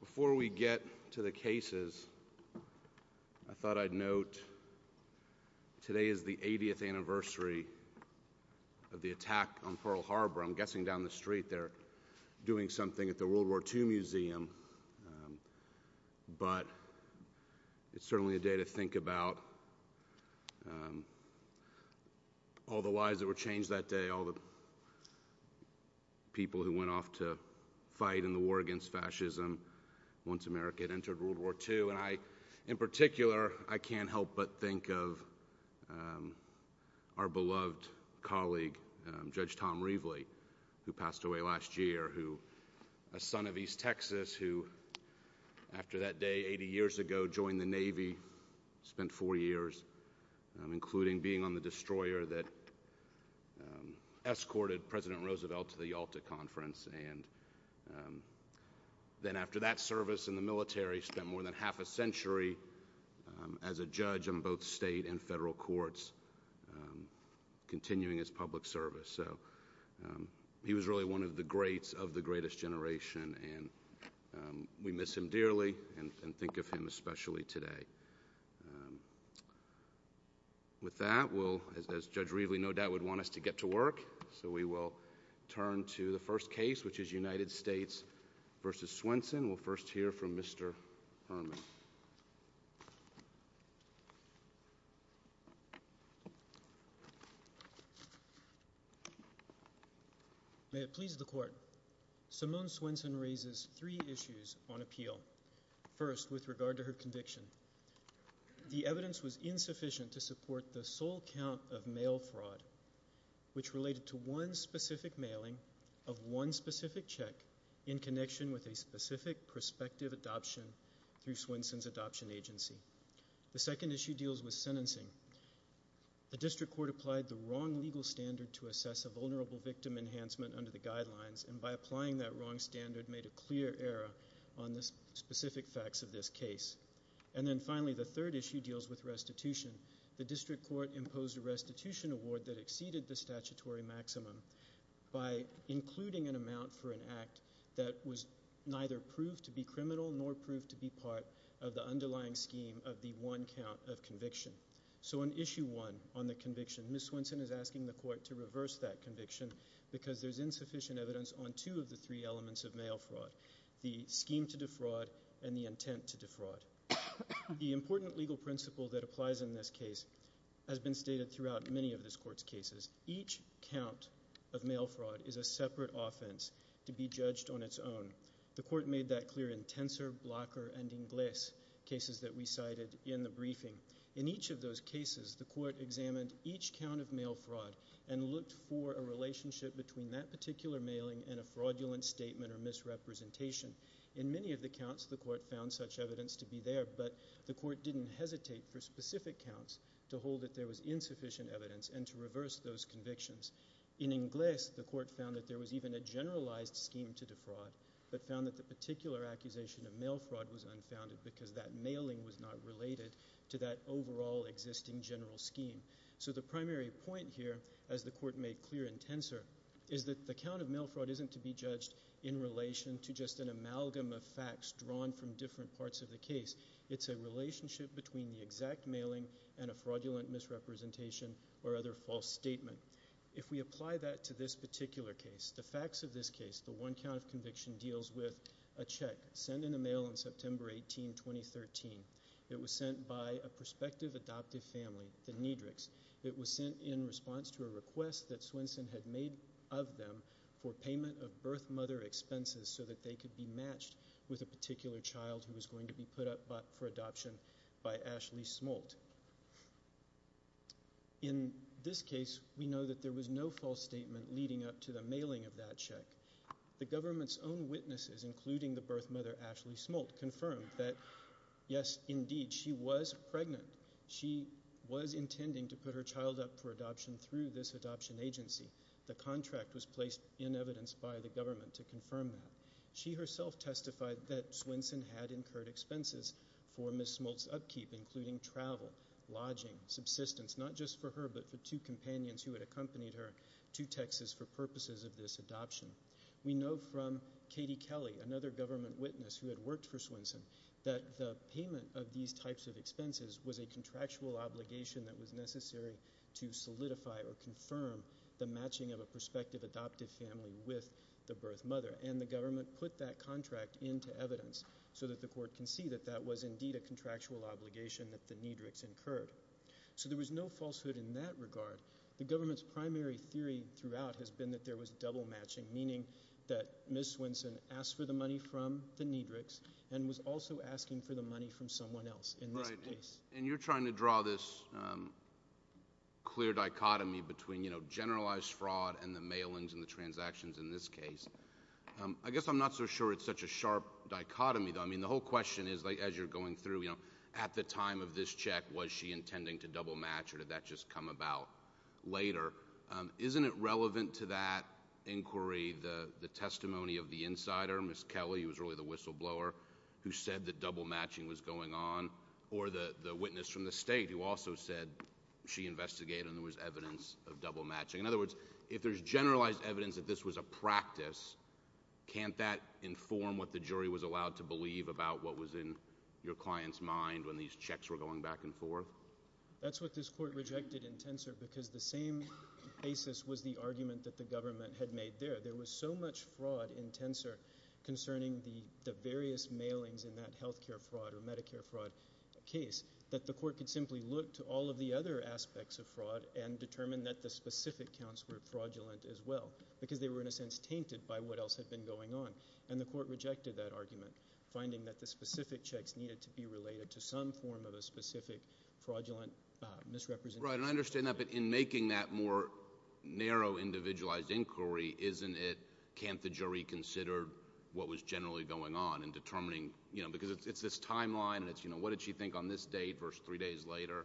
Before we get to the cases, I thought I'd note today is the 80th anniversary of the attack on Pearl Harbor. I'm guessing down the street they're doing something at the World War II Museum, but it's certainly a day to think about all the lives that were fought in the war against fascism once America had entered World War II. And I, in particular, I can't help but think of our beloved colleague, Judge Tom Reveley, who passed away last year, who a son of East Texas, who after that day, 80 years ago, joined the Navy, spent four years, including being on the destroyer that escorted President Roosevelt to the Yalta Conference, and then after that service in the military, spent more than half a century as a judge in both state and federal courts, continuing his public service. So he was really one of the greats of the greatest generation, and we miss him dearly, and think of him especially today. With that, as Judge Reveley no doubt would want us to get to work, so we will turn to the first case, which is United States v. Swenson. We'll first hear from Mr. Herman. May it please the Court. Simone Swenson raises three issues on appeal. First, with regard to her conviction. The evidence was insufficient to support the sole count of mail fraud, which is a violation of one specific check in connection with a specific prospective adoption through Swenson's adoption agency. The second issue deals with sentencing. The district court applied the wrong legal standard to assess a vulnerable victim enhancement under the guidelines, and by applying that wrong standard made a clear error on the specific facts of this case. And then finally, the third issue deals with restitution. The district court imposed a restitution award that exceeded the statutory maximum by including an amount for an act that was neither proved to be criminal nor proved to be part of the underlying scheme of the one count of conviction. So on issue one on the conviction, Ms. Swenson is asking the court to reverse that conviction because there's insufficient evidence on two of the three elements of mail fraud, the scheme to defraud and the intent to defraud. The important legal principle that applies in this case has been stated throughout many of this court's cases. Each count of mail fraud is a separate offense to be judged on its own. The court made that clear in Tensor, Blocker, and Inglis cases that we cited in the briefing. In each of those cases, the court examined each count of mail fraud and looked for a relationship between that particular mailing and a fraudulent statement or misrepresentation. In many of those cases, there was sufficient evidence to be there, but the court didn't hesitate for specific counts to hold that there was insufficient evidence and to reverse those convictions. In Inglis, the court found that there was even a generalized scheme to defraud but found that the particular accusation of mail fraud was unfounded because that mailing was not related to that overall existing general scheme. So the primary point here, as the court made clear in Tensor, is that the count of mail fraud isn't to be judged in relation to just an amalgam of facts drawn from different parts of the case. It's a relationship between the exact mailing and a fraudulent misrepresentation or other false statement. If we apply that to this particular case, the facts of this case, the one count of conviction deals with a check sent in the mail on September 18, 2013. It was sent by a prospective adoptive family, the Nedricks. It was sent in response to a request that Swenson had made of them for payment of birth mother expenses so that they could be matched with a particular child who was going to be put up for adoption by Ashley Smolt. In this case, we know that there was no false statement leading up to the mailing of that check. The government's own witnesses, including the birth mother, Ashley Smolt, confirmed that, yes, indeed, she was pregnant. She was intending to put her child up for adoption through this adoption agency. The contract was placed in evidence by the government to confirm that. She herself testified that Swenson had incurred expenses for Ms. Smolt's upkeep, including travel, lodging, subsistence, not just for her but for two companions who had accompanied her to Texas for purposes of this adoption. We know from Katie Kelly, another government witness who had worked for Swenson, that the payment of these types of expenses was a contractual obligation that was necessary to solidify or confirm the matching of a prospective adoptive family with the birth mother. And the government put that contract into evidence so that the court can see that that was, indeed, a contractual obligation that the NEDRCS incurred. So there was no falsehood in that regard. The government's primary theory throughout has been that there was double matching, meaning that Ms. Swenson asked for the money from the NEDRCS and was also asking for the money from someone else in this case. And you're trying to draw this clear dichotomy between, you know, generalized fraud and the mailings and the transactions in this case. I guess I'm not so sure it's such a sharp dichotomy, though. I mean, the whole question is, as you're going through, you know, at the time of this check, was she intending to double match or did that just come about later? Isn't it relevant to that inquiry, the testimony of the insider, Ms. Kelly, who said that double matching was going on, or the witness from the state who also said she investigated and there was evidence of double matching? In other words, if there's generalized evidence that this was a practice, can't that inform what the jury was allowed to believe about what was in your client's mind when these checks were going back and forth? That's what this court rejected in Tensor, because the same basis was the argument that the government had made there. There was so much fraud in Tensor concerning the various mailings in that health care fraud or Medicare fraud case that the court could simply look to all of the other aspects of fraud and determine that the specific counts were fraudulent as well, because they were, in a sense, tainted by what else had been going on. And the court rejected that argument, finding that the specific checks needed to be related to some form of a specific fraudulent misrepresentation. Right, and I understand that, but in making that more narrow, individualized inquiry, isn't it, can't the jury consider what was generally going on in determining, you know, because it's this timeline and it's, you know, what did she think on this date versus three days later?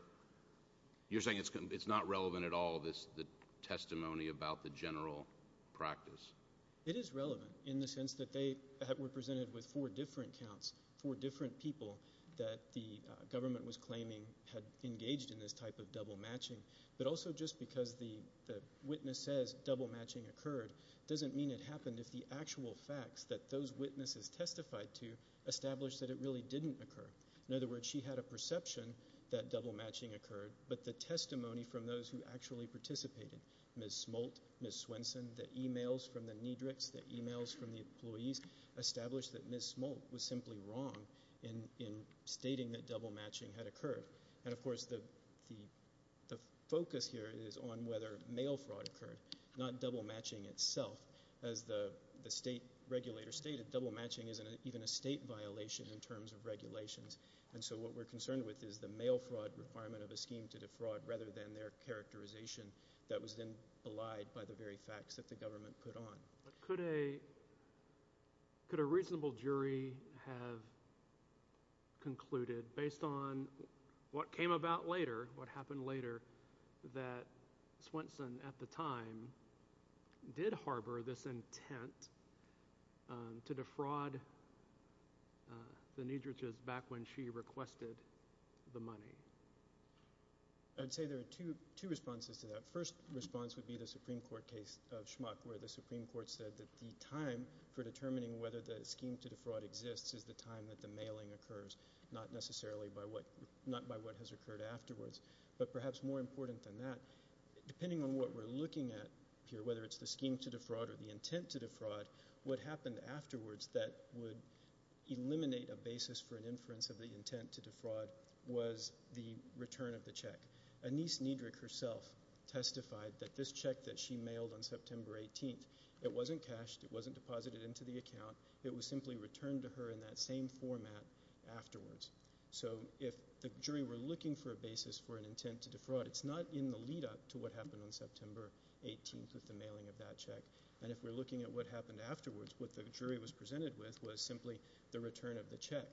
You're saying it's not relevant at all, the testimony about the general practice. It is relevant in the sense that they were presented with four different counts, four different people that the government was claiming had engaged in this type of double matching, but also just because the witness says double matching occurred doesn't mean it happened if the actual facts that those witnesses testified to established that it really didn't occur. In other words, she had a perception that double matching occurred, but the testimony from those who actually participated, Ms. Smolt, Ms. Swenson, the emails from the NEDRICs, the emails from the employees, established that Ms. Smolt was simply wrong in stating that double matching had occurred. And, of course, the focus here is on whether mail fraud occurred, not double matching itself. As the state regulator stated, double matching isn't even a state violation in terms of regulations, and so what we're concerned with is the mail fraud requirement of a scheme to defraud rather than their characterization that was then belied by the very facts that the government put on. Could a reasonable jury have concluded, based on what came about later, what happened later, that Swenson at the time did harbor this intent to defraud the NEDRICs back when she requested the money? I'd say there are two responses to that. The first response would be the Supreme Court case of Schmuck, where the Supreme Court said that the time for determining whether the scheme to defraud exists is the time that the mailing occurs, not necessarily by what has occurred afterwards. But perhaps more important than that, depending on what we're looking at here, whether it's the scheme to defraud or the intent to defraud, what happened afterwards that would eliminate a basis for an inference of the intent to defraud was the return of the check. Anise NEDRIC herself testified that this check that she mailed on September 18th, it wasn't cashed, it wasn't deposited into the account, it was simply returned to her in that same format afterwards. So if the jury were looking for a basis for an intent to defraud, it's not in the lead-up to what happened on September 18th with the mailing of that check, and if we're looking at what happened afterwards, what the jury was presented with was simply the return of the check.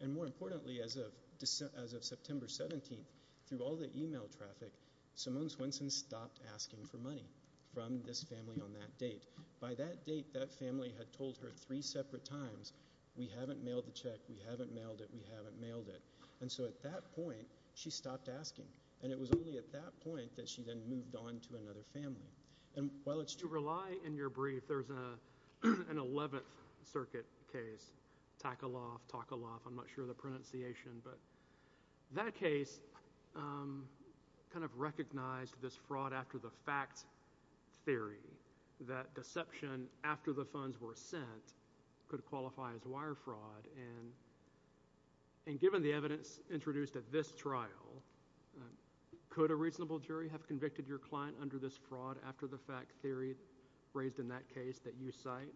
And more importantly, as of September 17th, through all the email traffic, Simone Swenson stopped asking for money from this family on that date. By that date, that family had told her three separate times, we haven't mailed the check, we haven't mailed it, we haven't mailed it. And so at that point, she stopped asking. And it was only at that point that she then moved on to another family. And while it's true... You rely in your brief, there's an 11th Circuit case, Takaloff, Takaloff, I'm not sure the pronunciation, but that case kind of recognized this fraud after the fact theory, that deception after the funds were sent could qualify as wire fraud. And given the evidence introduced at this trial, could a reasonable jury have convicted your client under this fraud after the fact theory raised in that case that you cite?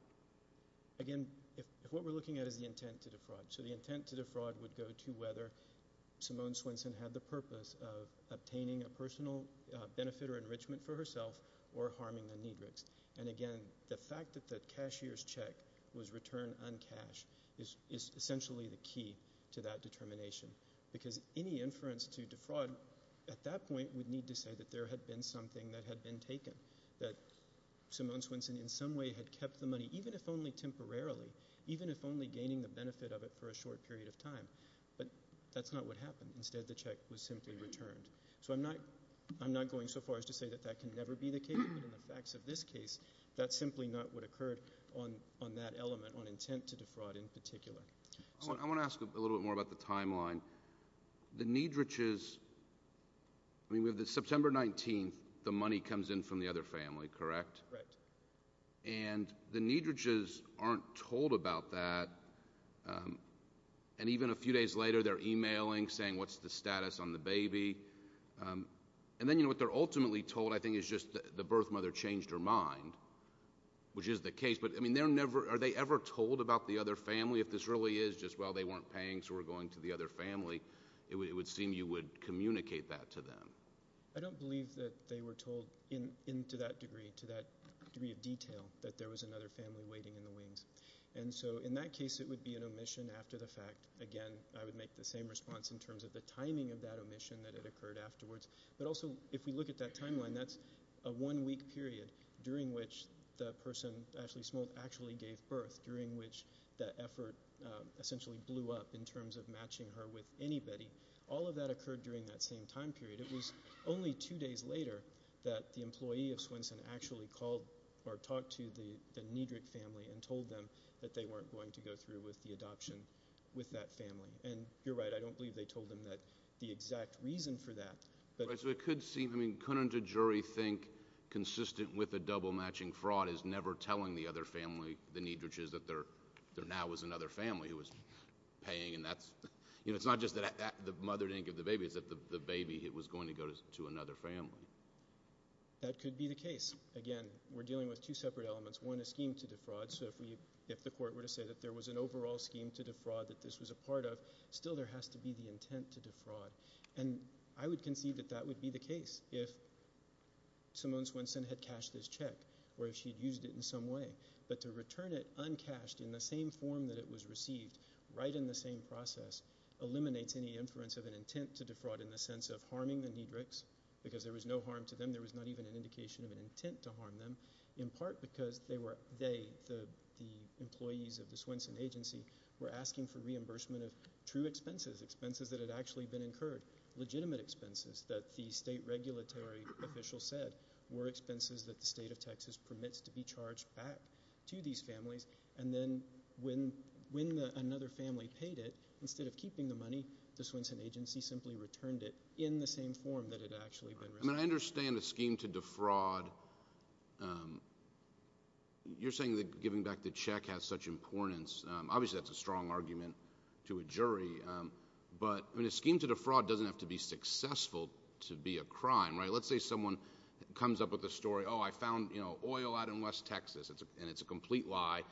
Again, if what we're looking at is the intent to defraud, so the intent to defraud would go to whether Simone Swenson had the purpose of obtaining a personal benefit or enrichment for herself or harming the Niedrichs. And again, the fact that the cashier's check was returned uncashed is essentially the key to that determination. Because any inference to defraud at that point would need to say that there had been something that had been even if only temporarily, even if only gaining the benefit of it for a short period of time. But that's not what happened. Instead, the check was simply returned. So I'm not going so far as to say that that can never be the case, but in the facts of this case, that simply not what occurred on that element, on intent to defraud in particular. I want to ask a little bit more about the timeline. The Niedrichs... I mean, with the September 19th, the money comes in from the other family, correct? Correct. And the Niedrichs aren't told about that. And even a few days later, they're emailing, saying, what's the status on the baby? And then, you know, what they're ultimately told, I think, is just the birth mother changed her mind, which is the case. But, I mean, they're never... are they ever told about the other family? If this really is just, well, they weren't paying, so we're going to the other family, it would seem you would communicate that to them. I don't believe that they were told in... to that degree, to that degree of detail, that there was another family waiting in the wings. And so, in that case, it would be an omission after the fact. Again, I would make the same response in terms of the timing of that omission that had occurred afterwards. But also, if we look at that timeline, that's a one-week period during which the person, Ashley Smolt, actually gave birth, during which the effort essentially blew up in terms of matching her with anybody. All of that occurred during that same time period. It was only two days later that the employee of Swenson actually called or talked to the Niedrich family and told them that they weren't going to go through with the adoption with that family. And you're right, I don't believe they told them that... the exact reason for that. Right, so it could seem... I mean, couldn't a jury think consistent with a double-matching fraud is never telling the other family, the Niedrichs, that there now was another family who was paying, and that's... you know, it's not just that the mother didn't give the baby, it's that the baby was going to go to another family. That could be the case. Again, we're dealing with two separate elements. One, a scheme to defraud, so if the court were to say that there was an overall scheme to defraud that this was a part of, still there has to be the intent to defraud. And I would concede that that would be the case if Simone Swenson had cashed this check, or if she'd used it in some way. But to return it uncashed in the same form that it was received, right in the same process, eliminates any inference of an intent to defraud in the sense of harming the Niedrichs, because there was no harm to them, there was not even an indication of an intent to harm them, in part because they, the employees of the Swenson agency, were asking for reimbursement of true expenses, expenses that had actually been incurred, legitimate expenses that the state regulatory official said were expenses that the state of Texas permits to be charged back to these families, and then when another family paid it, instead of keeping the money, the Swenson agency simply returned it in the same form that it had actually been received. I mean, I understand a scheme to defraud. You're saying that giving back the check has such importance. Obviously, that's a strong argument to a jury. But, I mean, a scheme to defraud doesn't have to be successful to be a crime, right? Let's say someone comes up with a story, oh, I found, you know, oil out in West Texas, and it's a complete lie,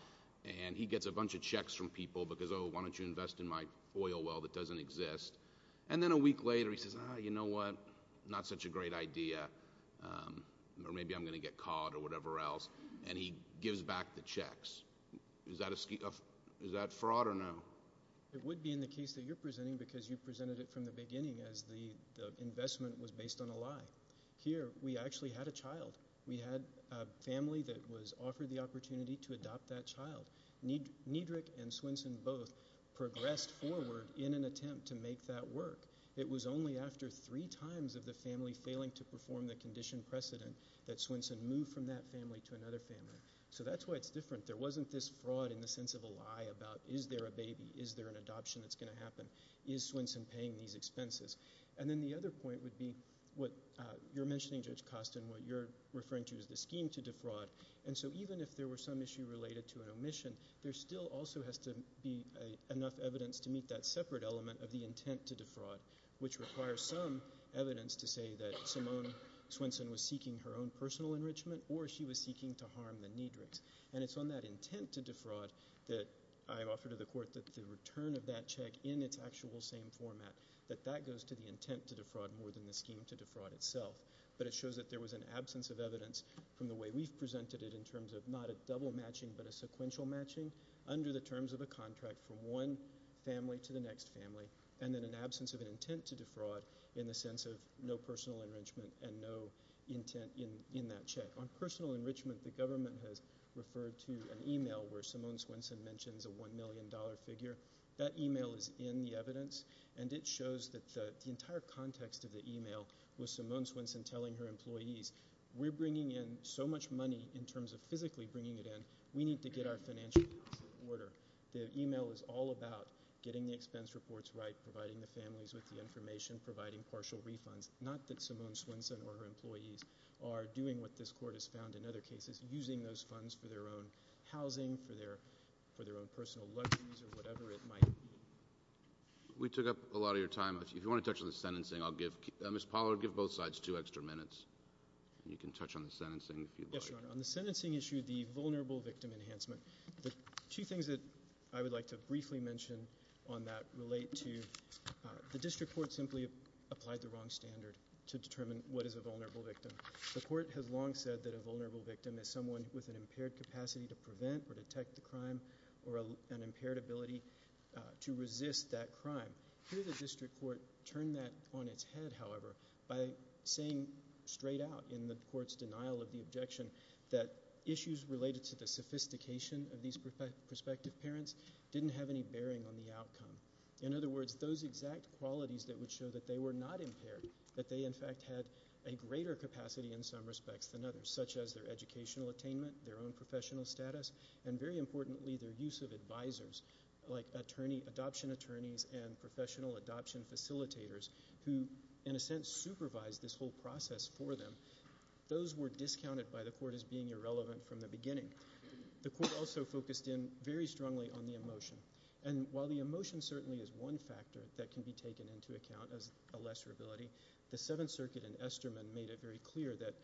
and he gets a bunch of checks from people because, oh, why don't you invest in my oil well that doesn't exist, and then a week later, he says, ah, you know what, not such a great idea, or maybe I'm going to get caught or whatever else, and he gives back the checks. Is that a, is that fraud or no? It would be in the case that you're presenting because you presented it from the beginning as the investment was based on a lie. Here, we actually had a child. We had a family that was offered the opportunity to adopt that child. Niedrich and Swenson both progressed forward in an attempt to make that work. It was only after three times of the family failing to perform the condition precedent that Swenson moved from that family to another family. So that's why it's different. There wasn't this fraud in the sense of a lie about is there a baby? Is there an adoption that's going to happen? Is Swenson paying these expenses? And then the other point would be what you're mentioning, Judge Costin, what you're referring to is the scheme to defraud, and so even if there were some issue related to an omission, there still also has to be enough evidence to meet that separate element of the intent to defraud, which requires some evidence to say that Simone Swenson was seeking her own personal enrichment or she was seeking to harm the Niedrichs, and it's on that intent to defraud that I offer to the Court that the return of that check in its actual same format, that that goes to the intent to defraud more than the scheme to defraud itself. But it shows that there was an absence of evidence from the way we've presented it in terms of not a double matching but a sequential matching under the terms of a contract from one family to the next family, and then an absence of an intent to defraud in the sense of no personal enrichment and no intent in that check. On personal enrichment, the government has referred to an email where Simone Swenson mentions a $1 million figure. That email is in the evidence, and it shows that the entire context of the email was Simone Swenson telling her employees, we're bringing in so much money in terms of physically bringing it in, we need to get our financials in order. The email is all about getting the expense reports right, providing the families with the information, providing partial refunds, not that Simone Swenson or her employees are doing what this Court has found in other cases, using those for their own housing, for their own personal luxuries, or whatever it might be. We took up a lot of your time. If you want to touch on the sentencing, I'll give, Ms. Pollard, give both sides two extra minutes, and you can touch on the sentencing if you'd like. Yes, Your Honor. On the sentencing issue, the vulnerable victim enhancement, the two things that I would like to briefly mention on that relate to the District Court simply applied the wrong standard to determine what is a vulnerable victim. The Court has long said that a vulnerable victim is someone with an impaired capacity to prevent or detect the crime, or an impaired ability to resist that crime. Here the District Court turned that on its head, however, by saying straight out in the Court's denial of the objection that issues related to the sophistication of these prospective parents didn't have any bearing on the outcome. In other words, those exact qualities that would show that they were not impaired, that they, in fact, had a greater capacity in some respects than others, such as their educational attainment, their own professional status, and, very importantly, their use of advisors, like adoption attorneys and professional adoption facilitators who, in a sense, supervised this whole process for them, those were discounted by the Court as being irrelevant from the beginning. The Court also focused in very strongly on the emotion. And while the emotion certainly is one factor that can be taken into account as a lesser ability, the Seventh Circuit in Esterman made it very clear that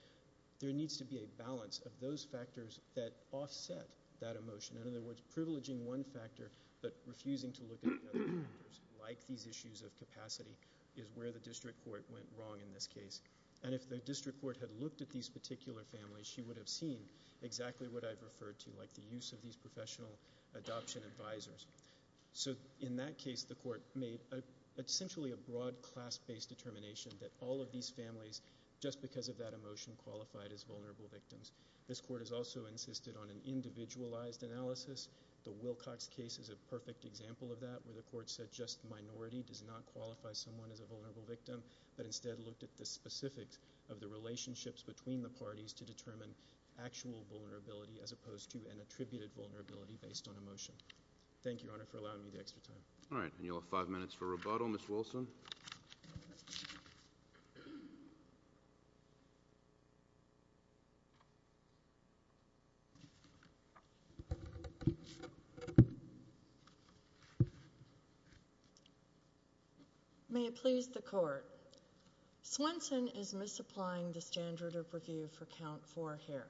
there needs to be a balance of those factors that offset that emotion. In other words, privileging one factor but refusing to look at other factors like these issues of capacity is where the District Court went wrong in this case. And if the District Court had looked at these particular families, she would have seen exactly what I've referred to, like the use of these professional adoption advisors. So in that case, the Court made essentially a broad class-based determination that all of these families, just because of that emotion, qualified as vulnerable victims. This Court has also insisted on an individualized analysis. The Wilcox case is a perfect example of that, where the Court said just minority does not qualify someone as a vulnerable victim, but instead looked at the specifics of the relationships between the parties to determine actual vulnerability as opposed to an attributed vulnerability based on emotion. Thank you, Your Honor, for allowing me the extra time. All right. And you'll have five minutes for rebuttal. Ms. Wilson. May it please the Court. Swenson is misapplying the standard of review for count four hair.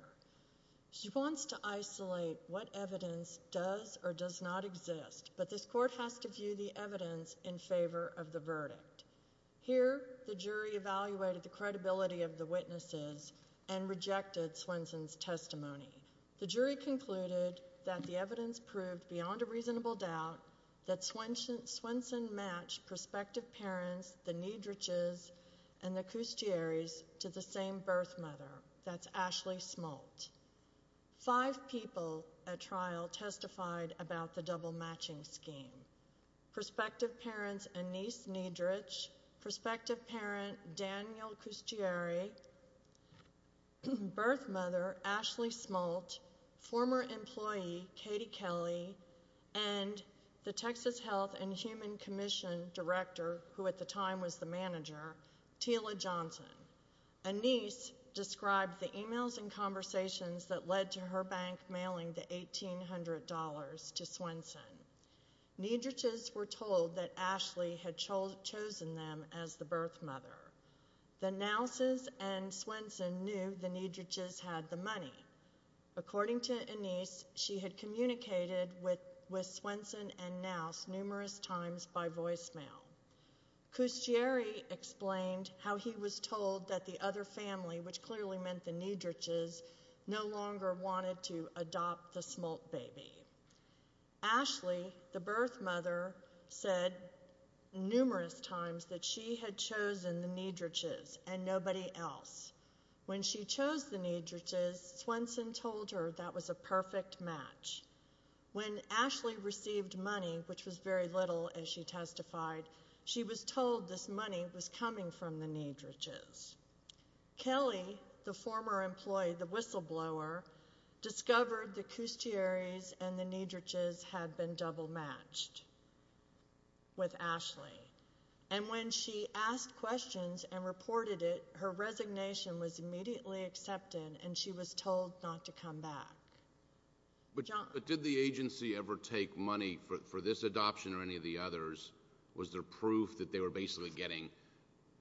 She wants to isolate what evidence does or does not exist, but this Court has to view the evidence in favor of the verdict. Here, the jury evaluated the credibility of the witnesses and rejected Swenson's testimony. The jury concluded that the evidence proved beyond a reasonable doubt that Swenson matched prospective parents, the Niedrichs, and the Smolt. Five people at trial testified about the double-matching scheme. Prospective parents Anise Niedrich, prospective parent Daniel Custieri, birth mother Ashley Smolt, former employee Katie Kelly, and the Texas Health and Human Commission director, who at the time, did not know that the Niedrichs had the money. The Niedrichs were told that Ashley had chosen them as the birth mother. The Nausses and Swenson knew the Niedrichs had the money. According to Anise, she had communicated with Swenson and Nauss numerous times by voicemail. Custieri explained how he was told that the other family, which clearly meant the Niedrichs, no longer wanted to adopt the Smolt baby. Ashley, the birth mother, said numerous times that she had chosen the Niedrichs and nobody else. When she chose the Niedrichs, Swenson told her that was a perfect match. When Ashley received money, which was very little, as she testified, she was told this money was for the Niedrichs. Kelly, the former employee, the whistleblower, discovered the Custieris and the Niedrichs had been double matched with Ashley. And when she asked questions and reported it, her resignation was immediately accepted and she was told not to come back. But did the agency ever take money for this adoption or any of the others? Was there proof that they were basically getting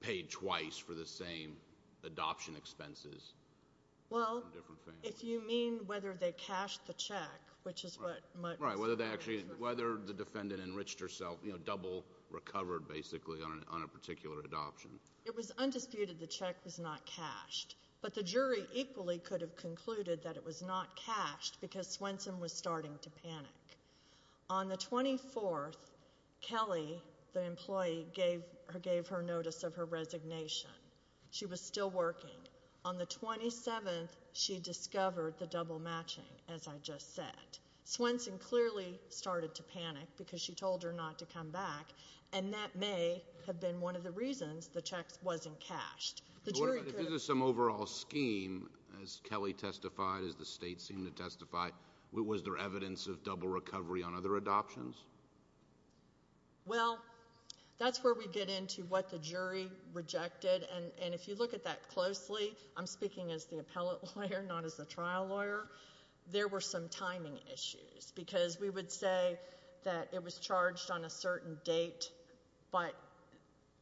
paid twice for the same adoption expenses? Well, if you mean whether they cashed the check, which is what... Right, whether the defendant enriched herself, you know, double recovered basically on a particular adoption. It was undisputed the check was not cashed, but the jury equally could have concluded that it was not cashed because Swenson was starting to panic. On the 24th, Kelly, the employee, gave her notice of her resignation. She was still working. On the 27th, she discovered the double matching, as I just said. Swenson clearly started to panic because she told her not to come back and that may have been one of the reasons the check wasn't cashed. The jury could have... Was there some overall scheme, as Kelly testified, as the state seemed to testify, was there evidence of double recovery on other adoptions? Well, that's where we get into what the jury rejected. And if you look at that closely, I'm speaking as the appellate lawyer, not as a trial lawyer, there were some timing issues because we would say that it was charged on a certain date, but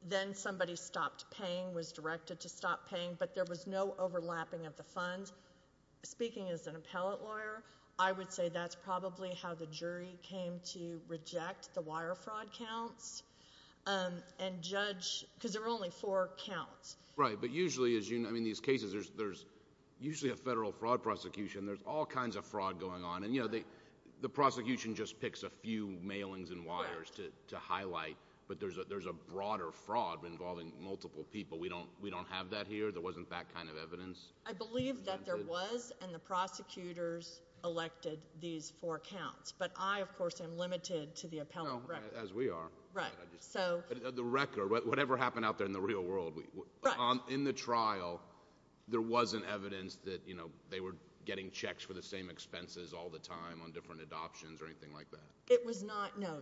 then somebody stopped paying, was directed to stop paying, but there was no overlapping of the funds. Speaking as an appellate lawyer, I would say that's probably how the jury came to reject the wire fraud counts and judge... Because there were only four counts. Right, but usually, as you know, in these cases, there's usually a federal fraud prosecution. There's all kinds of fraud going on and, you know, the prosecution just gets a few mailings and wires to highlight, but there's a broader fraud involving multiple people. We don't have that here. There wasn't that kind of evidence. I believe that there was and the prosecutors elected these four counts, but I, of course, am limited to the appellate record. As we are. Right, so... The record, whatever happened out there in the real world, in the trial, there wasn't evidence that, you know, they were getting checks for the same expenses all the time on different adoptions or anything like that? It was not, no.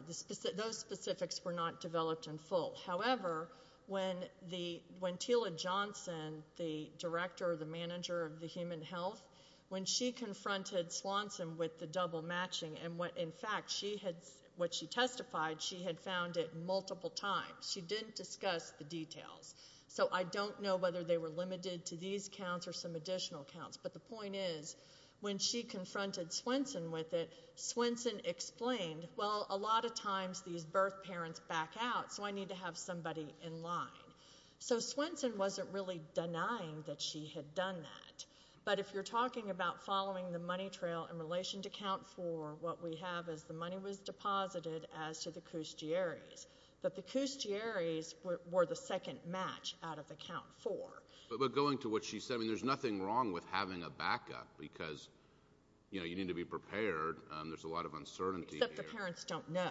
Those specifics were not developed in full. However, when Tila Johnson, the director or the manager of the Human Health, when she confronted Swanson with the double matching and what, in fact, what she testified, she had found it multiple times. She didn't discuss the details, so I don't know whether they were limited to these counts or some additional counts, but the point is, when she confronted Swanson with it, Swanson explained, well, a lot of times these birth parents back out, so I need to have somebody in line. So Swanson wasn't really denying that she had done that, but if you're talking about following the money trail in relation to count four, what we have is the money was deposited as to the Custieri's, but the Custieri's were the second match out of the count four. But going to what she said, I mean, there's nothing wrong with having a backup because, you know, you need to be prepared. There's a lot of uncertainty here. Except the parents don't know,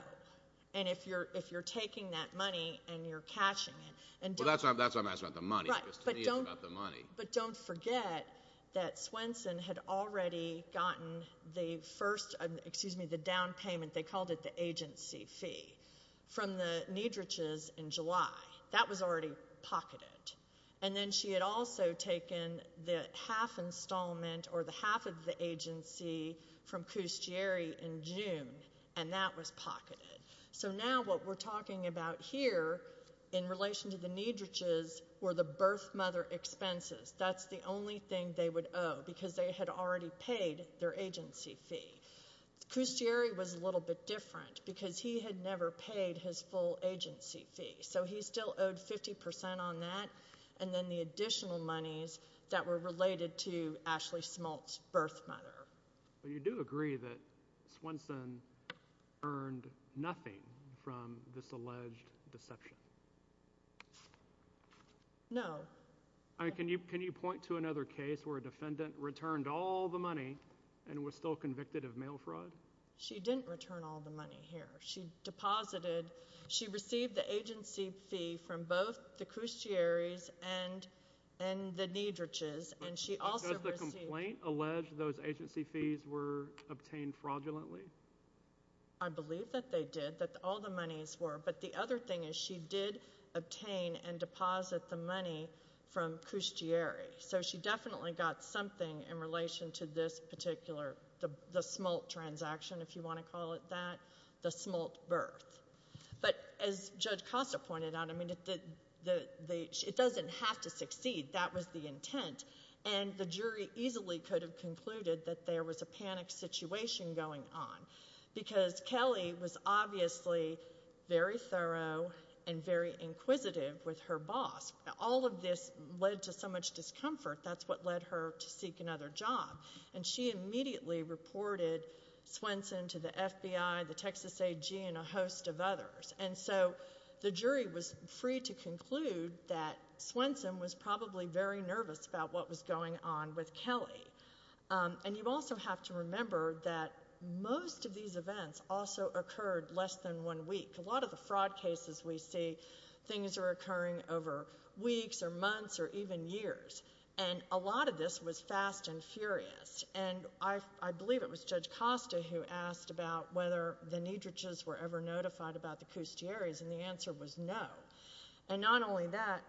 and if you're taking that money and you're cashing it, and don't... Well, that's why I'm asking about the money, because to me it's about the money. But don't forget that Swanson had already gotten the first, excuse me, the down payment, they called it the agency fee, from the Neidrich's in July. That was already pocketed. And then she had also taken the half installment or the half of the agency from Custieri in June, and that was pocketed. So now what we're talking about here in relation to the Neidrich's were the birth mother expenses. That's the only thing they would owe, because they had already paid their agency fee. Custieri was a little bit different, because he had never paid his full agency fee. So he still owed 50% on that, and then the additional monies that were related to Ashley Smolt's birth mother. But you do agree that Swanson earned nothing from this alleged deception? No. I mean, can you point to another case where a defendant returned all the money and was still convicted of mail fraud? She didn't return all the money here. She deposited, she received the agency fee from both the Custieri's and the Neidrich's, and she also received— Does the complaint allege those agency fees were obtained fraudulently? I believe that they did, that all the monies were. But the other thing is she did obtain and deposit the money from Custieri. So she definitely got something in relation to this Smolt transaction, if you want to call it that, the Smolt birth. But as Judge Costa pointed out, I mean, it doesn't have to succeed. That was the intent. And the jury easily could have concluded that there was a panic situation going on, because Kelly was obviously very thorough and very inquisitive with her boss. All of this led to so much discomfort. That's what led her to seek another job. And she immediately reported Swenson to the FBI, the Texas AG, and a host of others. And so the jury was free to conclude that Swenson was probably very nervous about what was going on with Kelly. And you also have to remember that most of these events also occurred less than one week. A lot of the fraud cases we have are even years. And a lot of this was fast and furious. And I believe it was Judge Costa who asked about whether the Niedrichs were ever notified about the Custieris, and the answer was no. And not only that,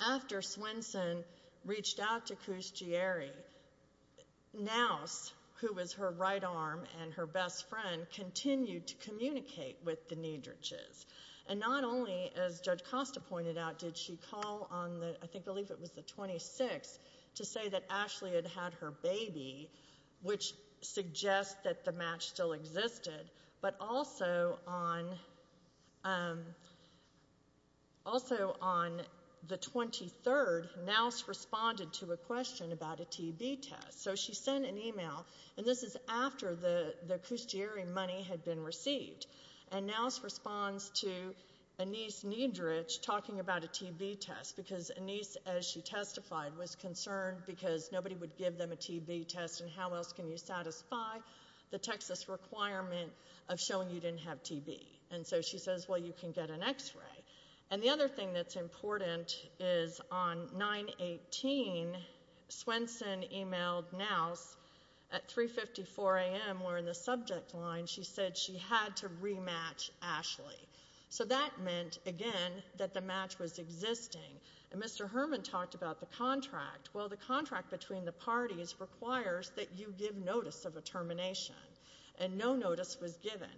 after Swenson reached out to Custieri, Nouse, who was her right arm and her best friend, continued to communicate with the Niedrichs. And not only, as Judge Costa pointed out, did she call on, I believe it was the 26th, to say that Ashley had had her baby, which suggests that the match still existed. But also on the 23rd, Nouse responded to a question about a TB test. So she sent an email, and this is after the Custieri money had been received. And Nouse responds to Anise Niedrich talking about a TB test, because Anise, as she testified, was concerned because nobody would give them a TB test, and how else can you satisfy the Texas requirement of showing you didn't have TB? And so she says, well, you can get an x-ray. And the other thing that's important is, on 9-18, Swenson emailed Nouse at 3.54 a.m., where in the subject line, she said she had to rematch Ashley. So that meant, again, that the match was existing. And Mr. Herman talked about the contract. Well, the contract between the parties requires that you give notice of a termination. And no notice was given.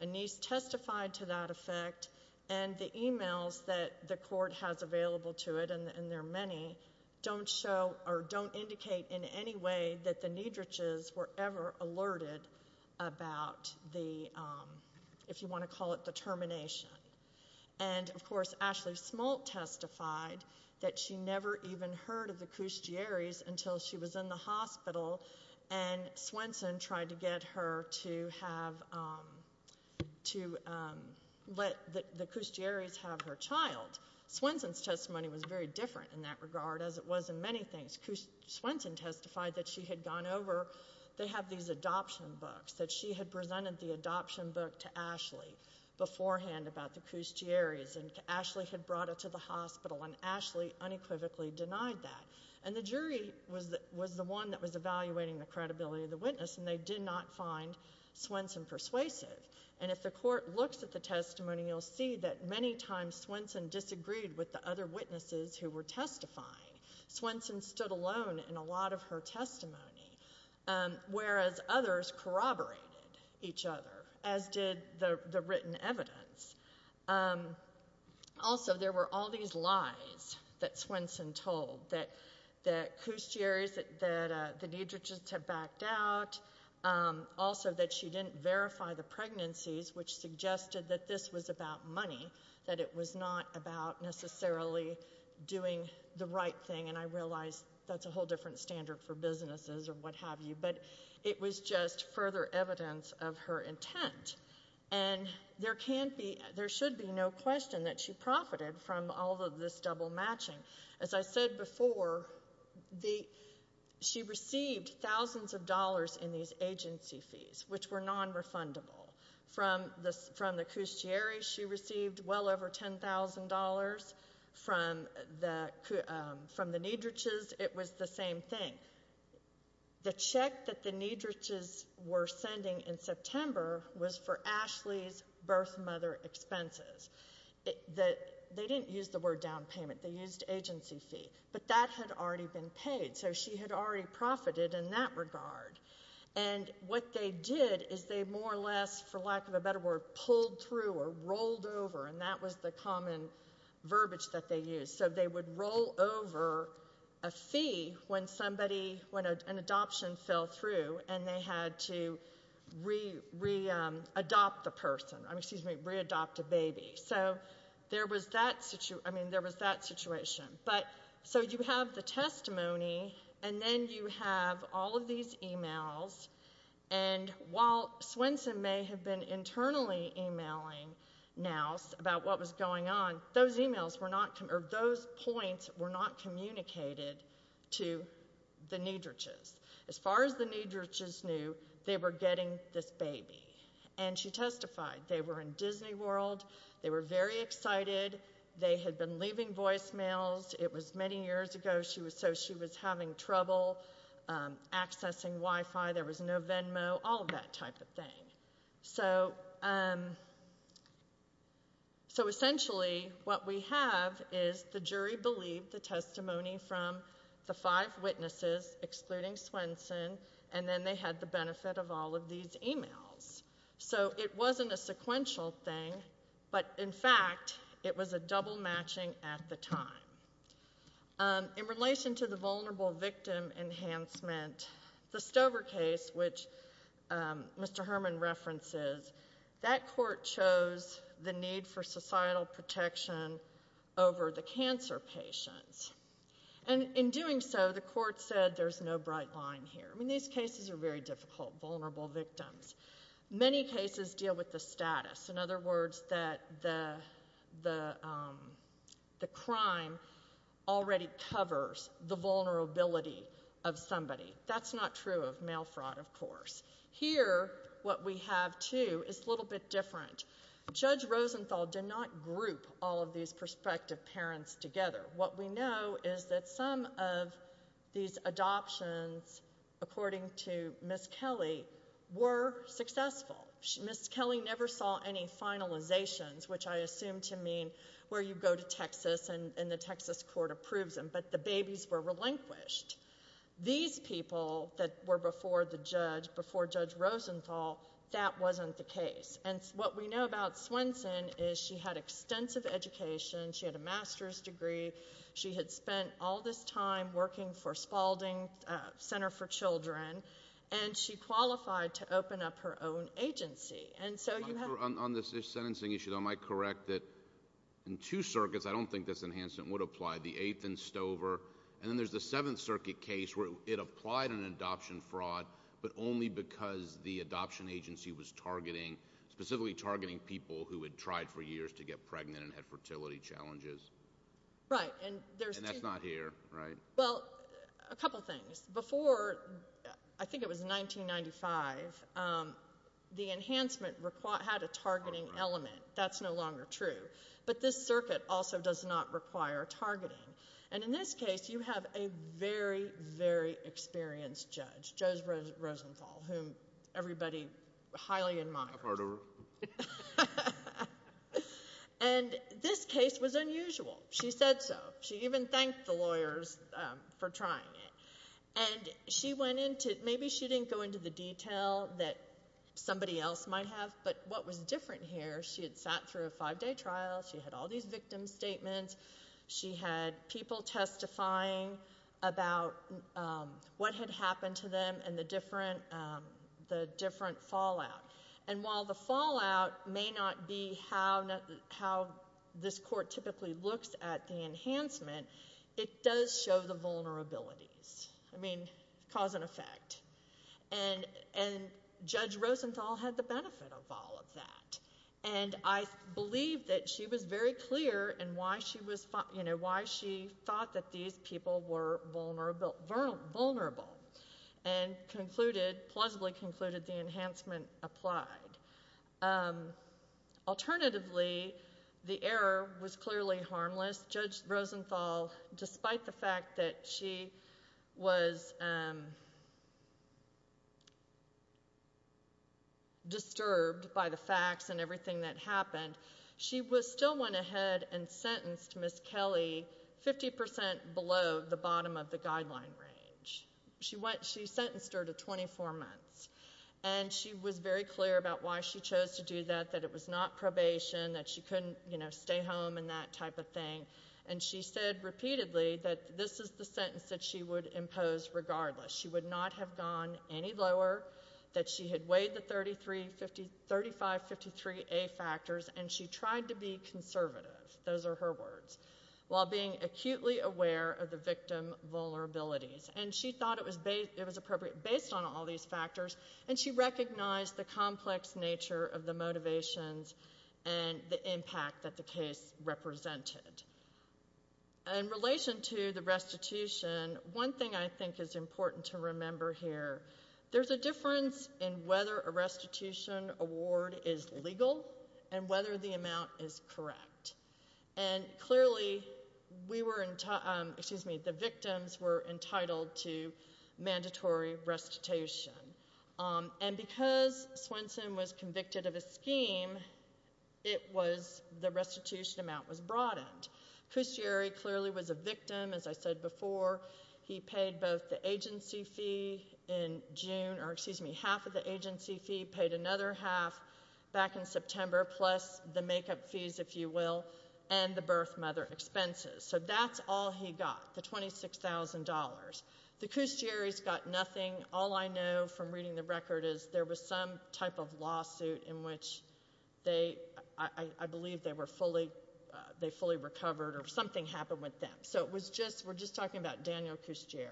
Anise testified to that effect, and the emails that the court has available to it, and there are many, don't show or don't indicate in any way that the Niedrichs were ever alerted about the, if you want to call it the termination. And, of course, Ashley Smolt testified that she never even heard of the Custieris until she was in the hospital, and Swenson tried to get her to have, to let the Custieris have her child. Swenson's testimony was very different in that regard, as it was in many things. Swenson testified that she had gone over, they have these adoption books, that she had presented the adoption book to Ashley beforehand about the Custieris, and Ashley had brought it to the hospital, and Ashley unequivocally denied that. And the jury was the one that was evaluating the credibility of the witness, and they did not find Swenson persuasive. And if the court looks at the testimony, you'll see that many times Swenson disagreed with the other witnesses who were testifying. Swenson stood alone in a lot of her testimony, whereas others corroborated each other, as did the written evidence. Also, there were all these lies that Swenson told, that Custieris, that the Niedrichs had backed out, also that she didn't verify the pregnancies, which suggested that this was about money, that it was not about necessarily doing the right thing, and I realize that's a whole different standard for businesses, or what have you, but it was just further evidence of her intent. And there can't be, there should be no question that she profited from all of this double matching. As I said before, she received thousands of dollars in these agency fees, which were non-refundable. From the Custieris, she received well over $10,000. From the Niedrichs, it was the same thing. The check that the Niedrichs were sending in September was for Ashley's birth mother expenses. They didn't use the word down payment, they used agency fee, but that had already been paid, so she had already profited in that regard. And what they did is they more or less, for lack of a better word, pulled through, or rolled over, and that was the common verbiage that they used. So they would roll over a fee when somebody, when an adoption fell through, and they had to, you know, re-adopt the person, I mean, excuse me, re-adopt a baby. So there was that, I mean, there was that situation. But, so you have the testimony, and then you have all of these emails, and while Swenson may have been internally emailing Nowce about what was going on, those emails were not, or those points were not communicated to the Niedrichs. As far as the Niedrichs knew, they were getting this baby. And she testified, they were in Disney World, they were very excited, they had been leaving voicemails, it was many years ago, so she was having trouble accessing Wi-Fi, there was no Venmo, all of that type of thing. So, so essentially what we have is the jury believed the testimony from the five witnesses, excluding Swenson, and then they had the benefit of all of these emails. So it wasn't a sequential thing, but in fact, it was a double matching at the time. In relation to the vulnerable victim enhancement, the Stover case, which Mr. Herman references, that court chose the need for societal protection over the cancer patients. And in doing so, the court said there's no bright line here. I mean, these cases are very difficult, vulnerable victims. Many cases deal with the status, in other words, that the crime already covers the vulnerability of somebody. That's not true of mail fraud, of course. Here, what we have, too, is a little bit different. Judge Rosenthal, historian of cancer management, well, in addition to that, is a bill that applies to prison reform, federal reform, and this was asked that Judge Swell, these control charges, whether or not those counsel charges are warranted, and he's answer shows the challenges. Right. And that's not here, right? Well, a couple things. Before, I think it was 1995, the enhancement had a targeting element. That's no longer true. But this circuit also does not require targeting. And in this case, you have a very, very experienced judge, Judge Rosenthal, whom everybody highly admires. And this case was unusual. She said so. She even thanked the lawyers for trying it. And she went into, maybe she didn't go into the detail that somebody else might have, but what was different here, she had sat through a five-day trial, she had all these victim statements, she had people testifying about what had happened to them and the different fallout. And while the fallout may not be how this court typically looks at the enhancement, it does show the vulnerabilities. I mean, cause and effect. And Judge Rosenthal had the benefit of all of that. And I believe that she was very clear in why she thought that these people were vulnerable. And concluded, plausibly concluded, the enhancement applied. Alternatively, the error was clearly harmless. Judge Rosenthal, despite the fact that she was disturbed by the facts and everything that happened, she still went ahead and sentenced Ms. Kelly 50% below the bottom of the guideline range. She sentenced her to 24 months. And she was very clear about why she chose to do that, that it was not probation, that she couldn't stay home and that type of thing. And she said repeatedly that this is the sentence that she would impose regardless. She would not have gone any lower, that she had weighed the 3553A factors and she tried to be conservative, those are her words, while being acutely aware of the victim vulnerabilities. And she thought it was appropriate based on all these factors and she recognized the complex nature of the motivations and the impact that the case represented. In relation to the restitution, one thing I think is important to remember here, there's a difference in whether a restitution award is legal and whether the amount is correct. And clearly, we were, excuse me, the victims were entitled to mandatory restitution. And because Swenson was convicted of a scheme, it was the restitution amount was broadened. Custieri clearly was a victim, as I said before. He paid both the agency fee in June, or excuse me, half of the agency fee, paid another half back in September, plus the makeup fees, if you will, and the birth mother expenses. So that's all he got, the $26,000. The Custieris got nothing. All I know from reading the record is there was some type of lawsuit in which they, I believe they were fully, they fully recovered or something happened with them. So it was just, we're just talking about Daniel Custieri.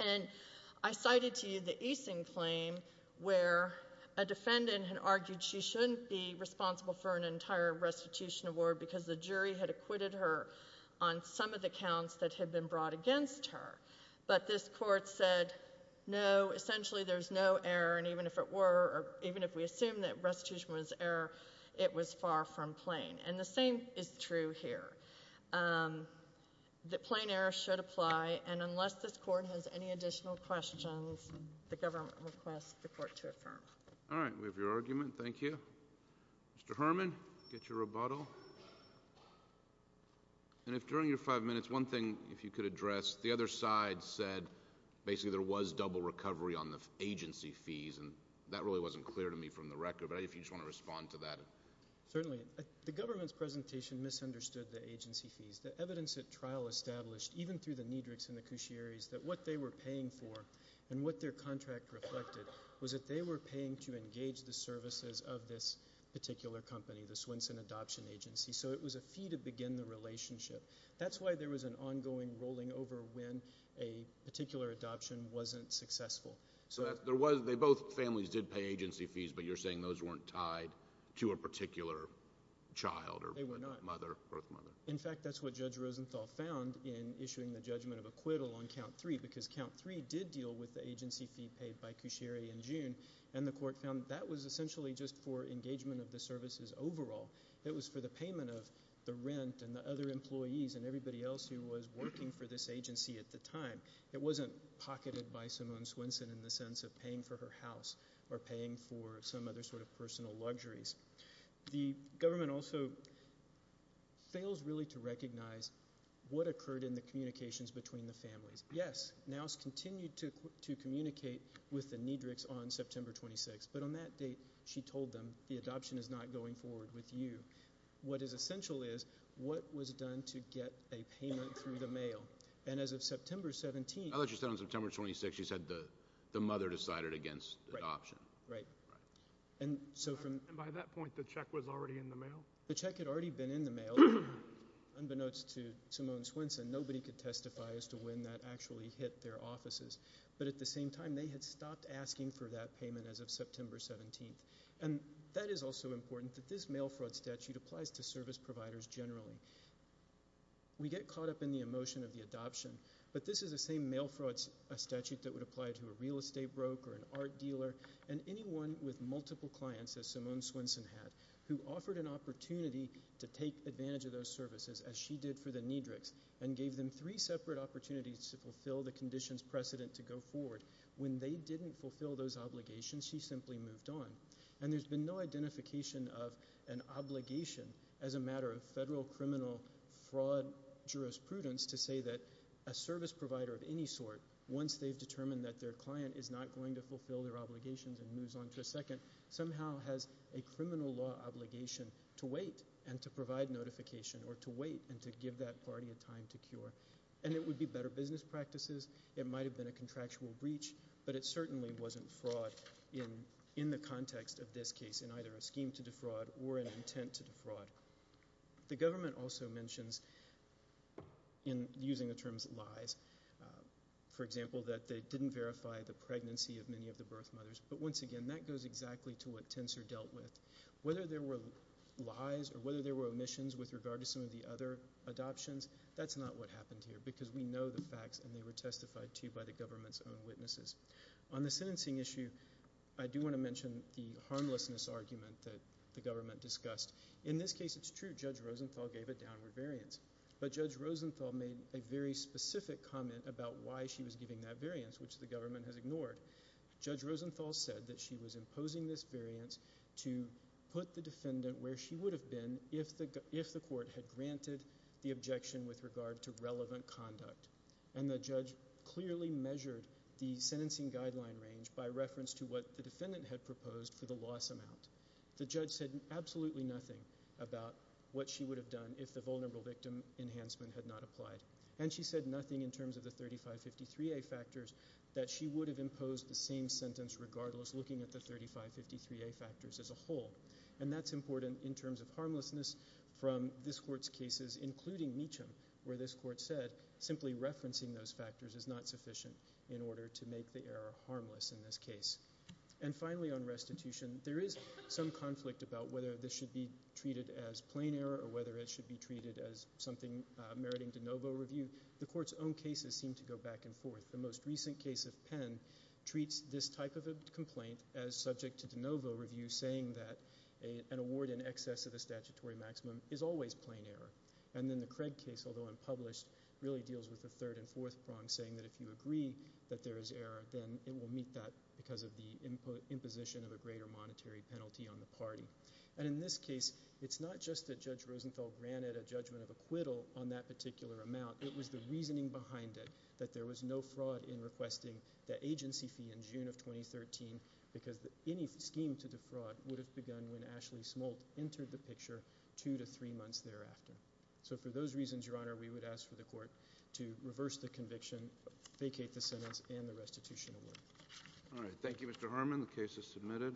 And I cited to you the Easing claim where a defendant had argued she shouldn't be responsible for an entire restitution award because the jury had acquitted her on some of the counts that had been brought against her. But this court said, no, essentially there's no error. And even if it were, or even if we assume that restitution was error, it was far from plain. And the same is true here. The plain error should apply. And unless this court has any additional questions, the government requests the court to affirm. All right. We have your argument. Thank you. Mr. Herman, get your rebuttal. And if you could, during your five minutes, one thing if you could address, the other side said basically there was double recovery on the agency fees. And that really wasn't clear to me from the record. But if you just want to respond to that. Certainly. The government's presentation misunderstood the agency fees. The evidence at trial established, even through the Niedrichs and the Custieris, that what they were paying for and what their contract reflected was that they were paying to engage the services of this particular company, the Custieris. That's why there was an ongoing rolling over when a particular adoption wasn't successful. So there was, they both families did pay agency fees, but you're saying those weren't tied to a particular child or mother? They were not. In fact, that's what Judge Rosenthal found in issuing the judgment of acquittal on count three, because count three did deal with the agency fee paid by Custieris in June. And the court found that was essentially just for engagement of the services overall. It was for the payment of the rent and the other employees and everybody else who was working for this agency at the time. It wasn't pocketed by Simone Swinson in the sense of paying for her house or paying for some other sort of personal luxuries. The government also fails really to recognize what occurred in the communications between the families. Yes, Nowes continued to communicate with the Niedrichs on September 26th. But on that date, she told them, the adoption is not going forward with you. What is essential is what was done to get a payment through the mail. And as of September 17th. I thought you said on September 26th, you said the mother decided against adoption. Right. And so from by that point, the check was already in the mail. The check had already been in the mail. Unbeknownst to Simone Swinson, nobody could testify as to when that actually hit their offices. But at the same time, they had stopped asking for that payment as of September 17th. And that is also important, that this mail fraud statute applies to service providers generally. We get caught up in the emotion of the adoption, but this is the same mail fraud statute that would apply to a real estate broker, an art dealer, and anyone with multiple clients, as Simone Swinson had, who offered an opportunity to take advantage of those services, as she did for the Niedrichs, and gave them three separate opportunities to fulfill the conditions precedent to go forward, when they didn't fulfill those obligations, she simply moved on. And there's been no identification of an obligation as a matter of federal criminal fraud jurisprudence to say that a service provider of any sort, once they've determined that their client is not going to fulfill their obligations and moves on to a second, somehow has a criminal law obligation to wait and to provide notification or to wait and to give that party a time to cure. And it would be better business practices. It might have been a contractual breach, but it certainly wasn't fraud in the context of this case, in either a scheme to defraud or an intent to defraud. The government also mentions, in using the terms lies, for example, that they didn't verify the pregnancy of many of the birth mothers. But once again, that goes exactly to what Tensor dealt with. Whether there were lies or whether there were omissions with regard to some of the other adoptions, that's not what happened here, because we I do want to mention the harmlessness argument that the government discussed. In this case, it's true, Judge Rosenthal gave a downward variance. But Judge Rosenthal made a very specific comment about why she was giving that variance, which the government has ignored. Judge Rosenthal said that she was imposing this variance to put the defendant where she would have been if the court had granted the objection with regard to relevant conduct. And the judge clearly measured the sentencing guideline range by reference to what the defendant had proposed for the loss amount. The judge said absolutely nothing about what she would have done if the vulnerable victim enhancement had not applied. And she said nothing in terms of the 3553A factors that she would have imposed the same sentence regardless, looking at the 3553A factors as a whole. And that's important in terms of harmlessness from this court's cases, including Meacham, where this court said simply referencing those factors is not sufficient in order to make the error harmless in this case. And finally, on restitution, there is some conflict about whether this should be treated as plain error or whether it should be treated as something meriting de novo review. The court's own cases seem to go back and forth. The most recent case of Penn treats this type of a complaint as subject to de novo review, saying that an award in excess of the statutory maximum is always plain error. And then the Craig case, although unpublished, really deals with the third and fourth prong, saying that if you agree that there is error, then it will meet that because of the imposition of a greater monetary penalty on the party. And in this case, it's not just that Judge Rosenfeld granted a judgment of acquittal on that particular amount. It was the reasoning behind it, that there was no fraud in requesting the agency fee in June of 2013, because any scheme to defraud would have begun when Ashley took the picture two to three months thereafter. So for those reasons, Your Honor, we would ask for the court to reverse the conviction, vacate the sentence, and the restitution award. All right. Thank you, Mr. Harmon. The case is submitted.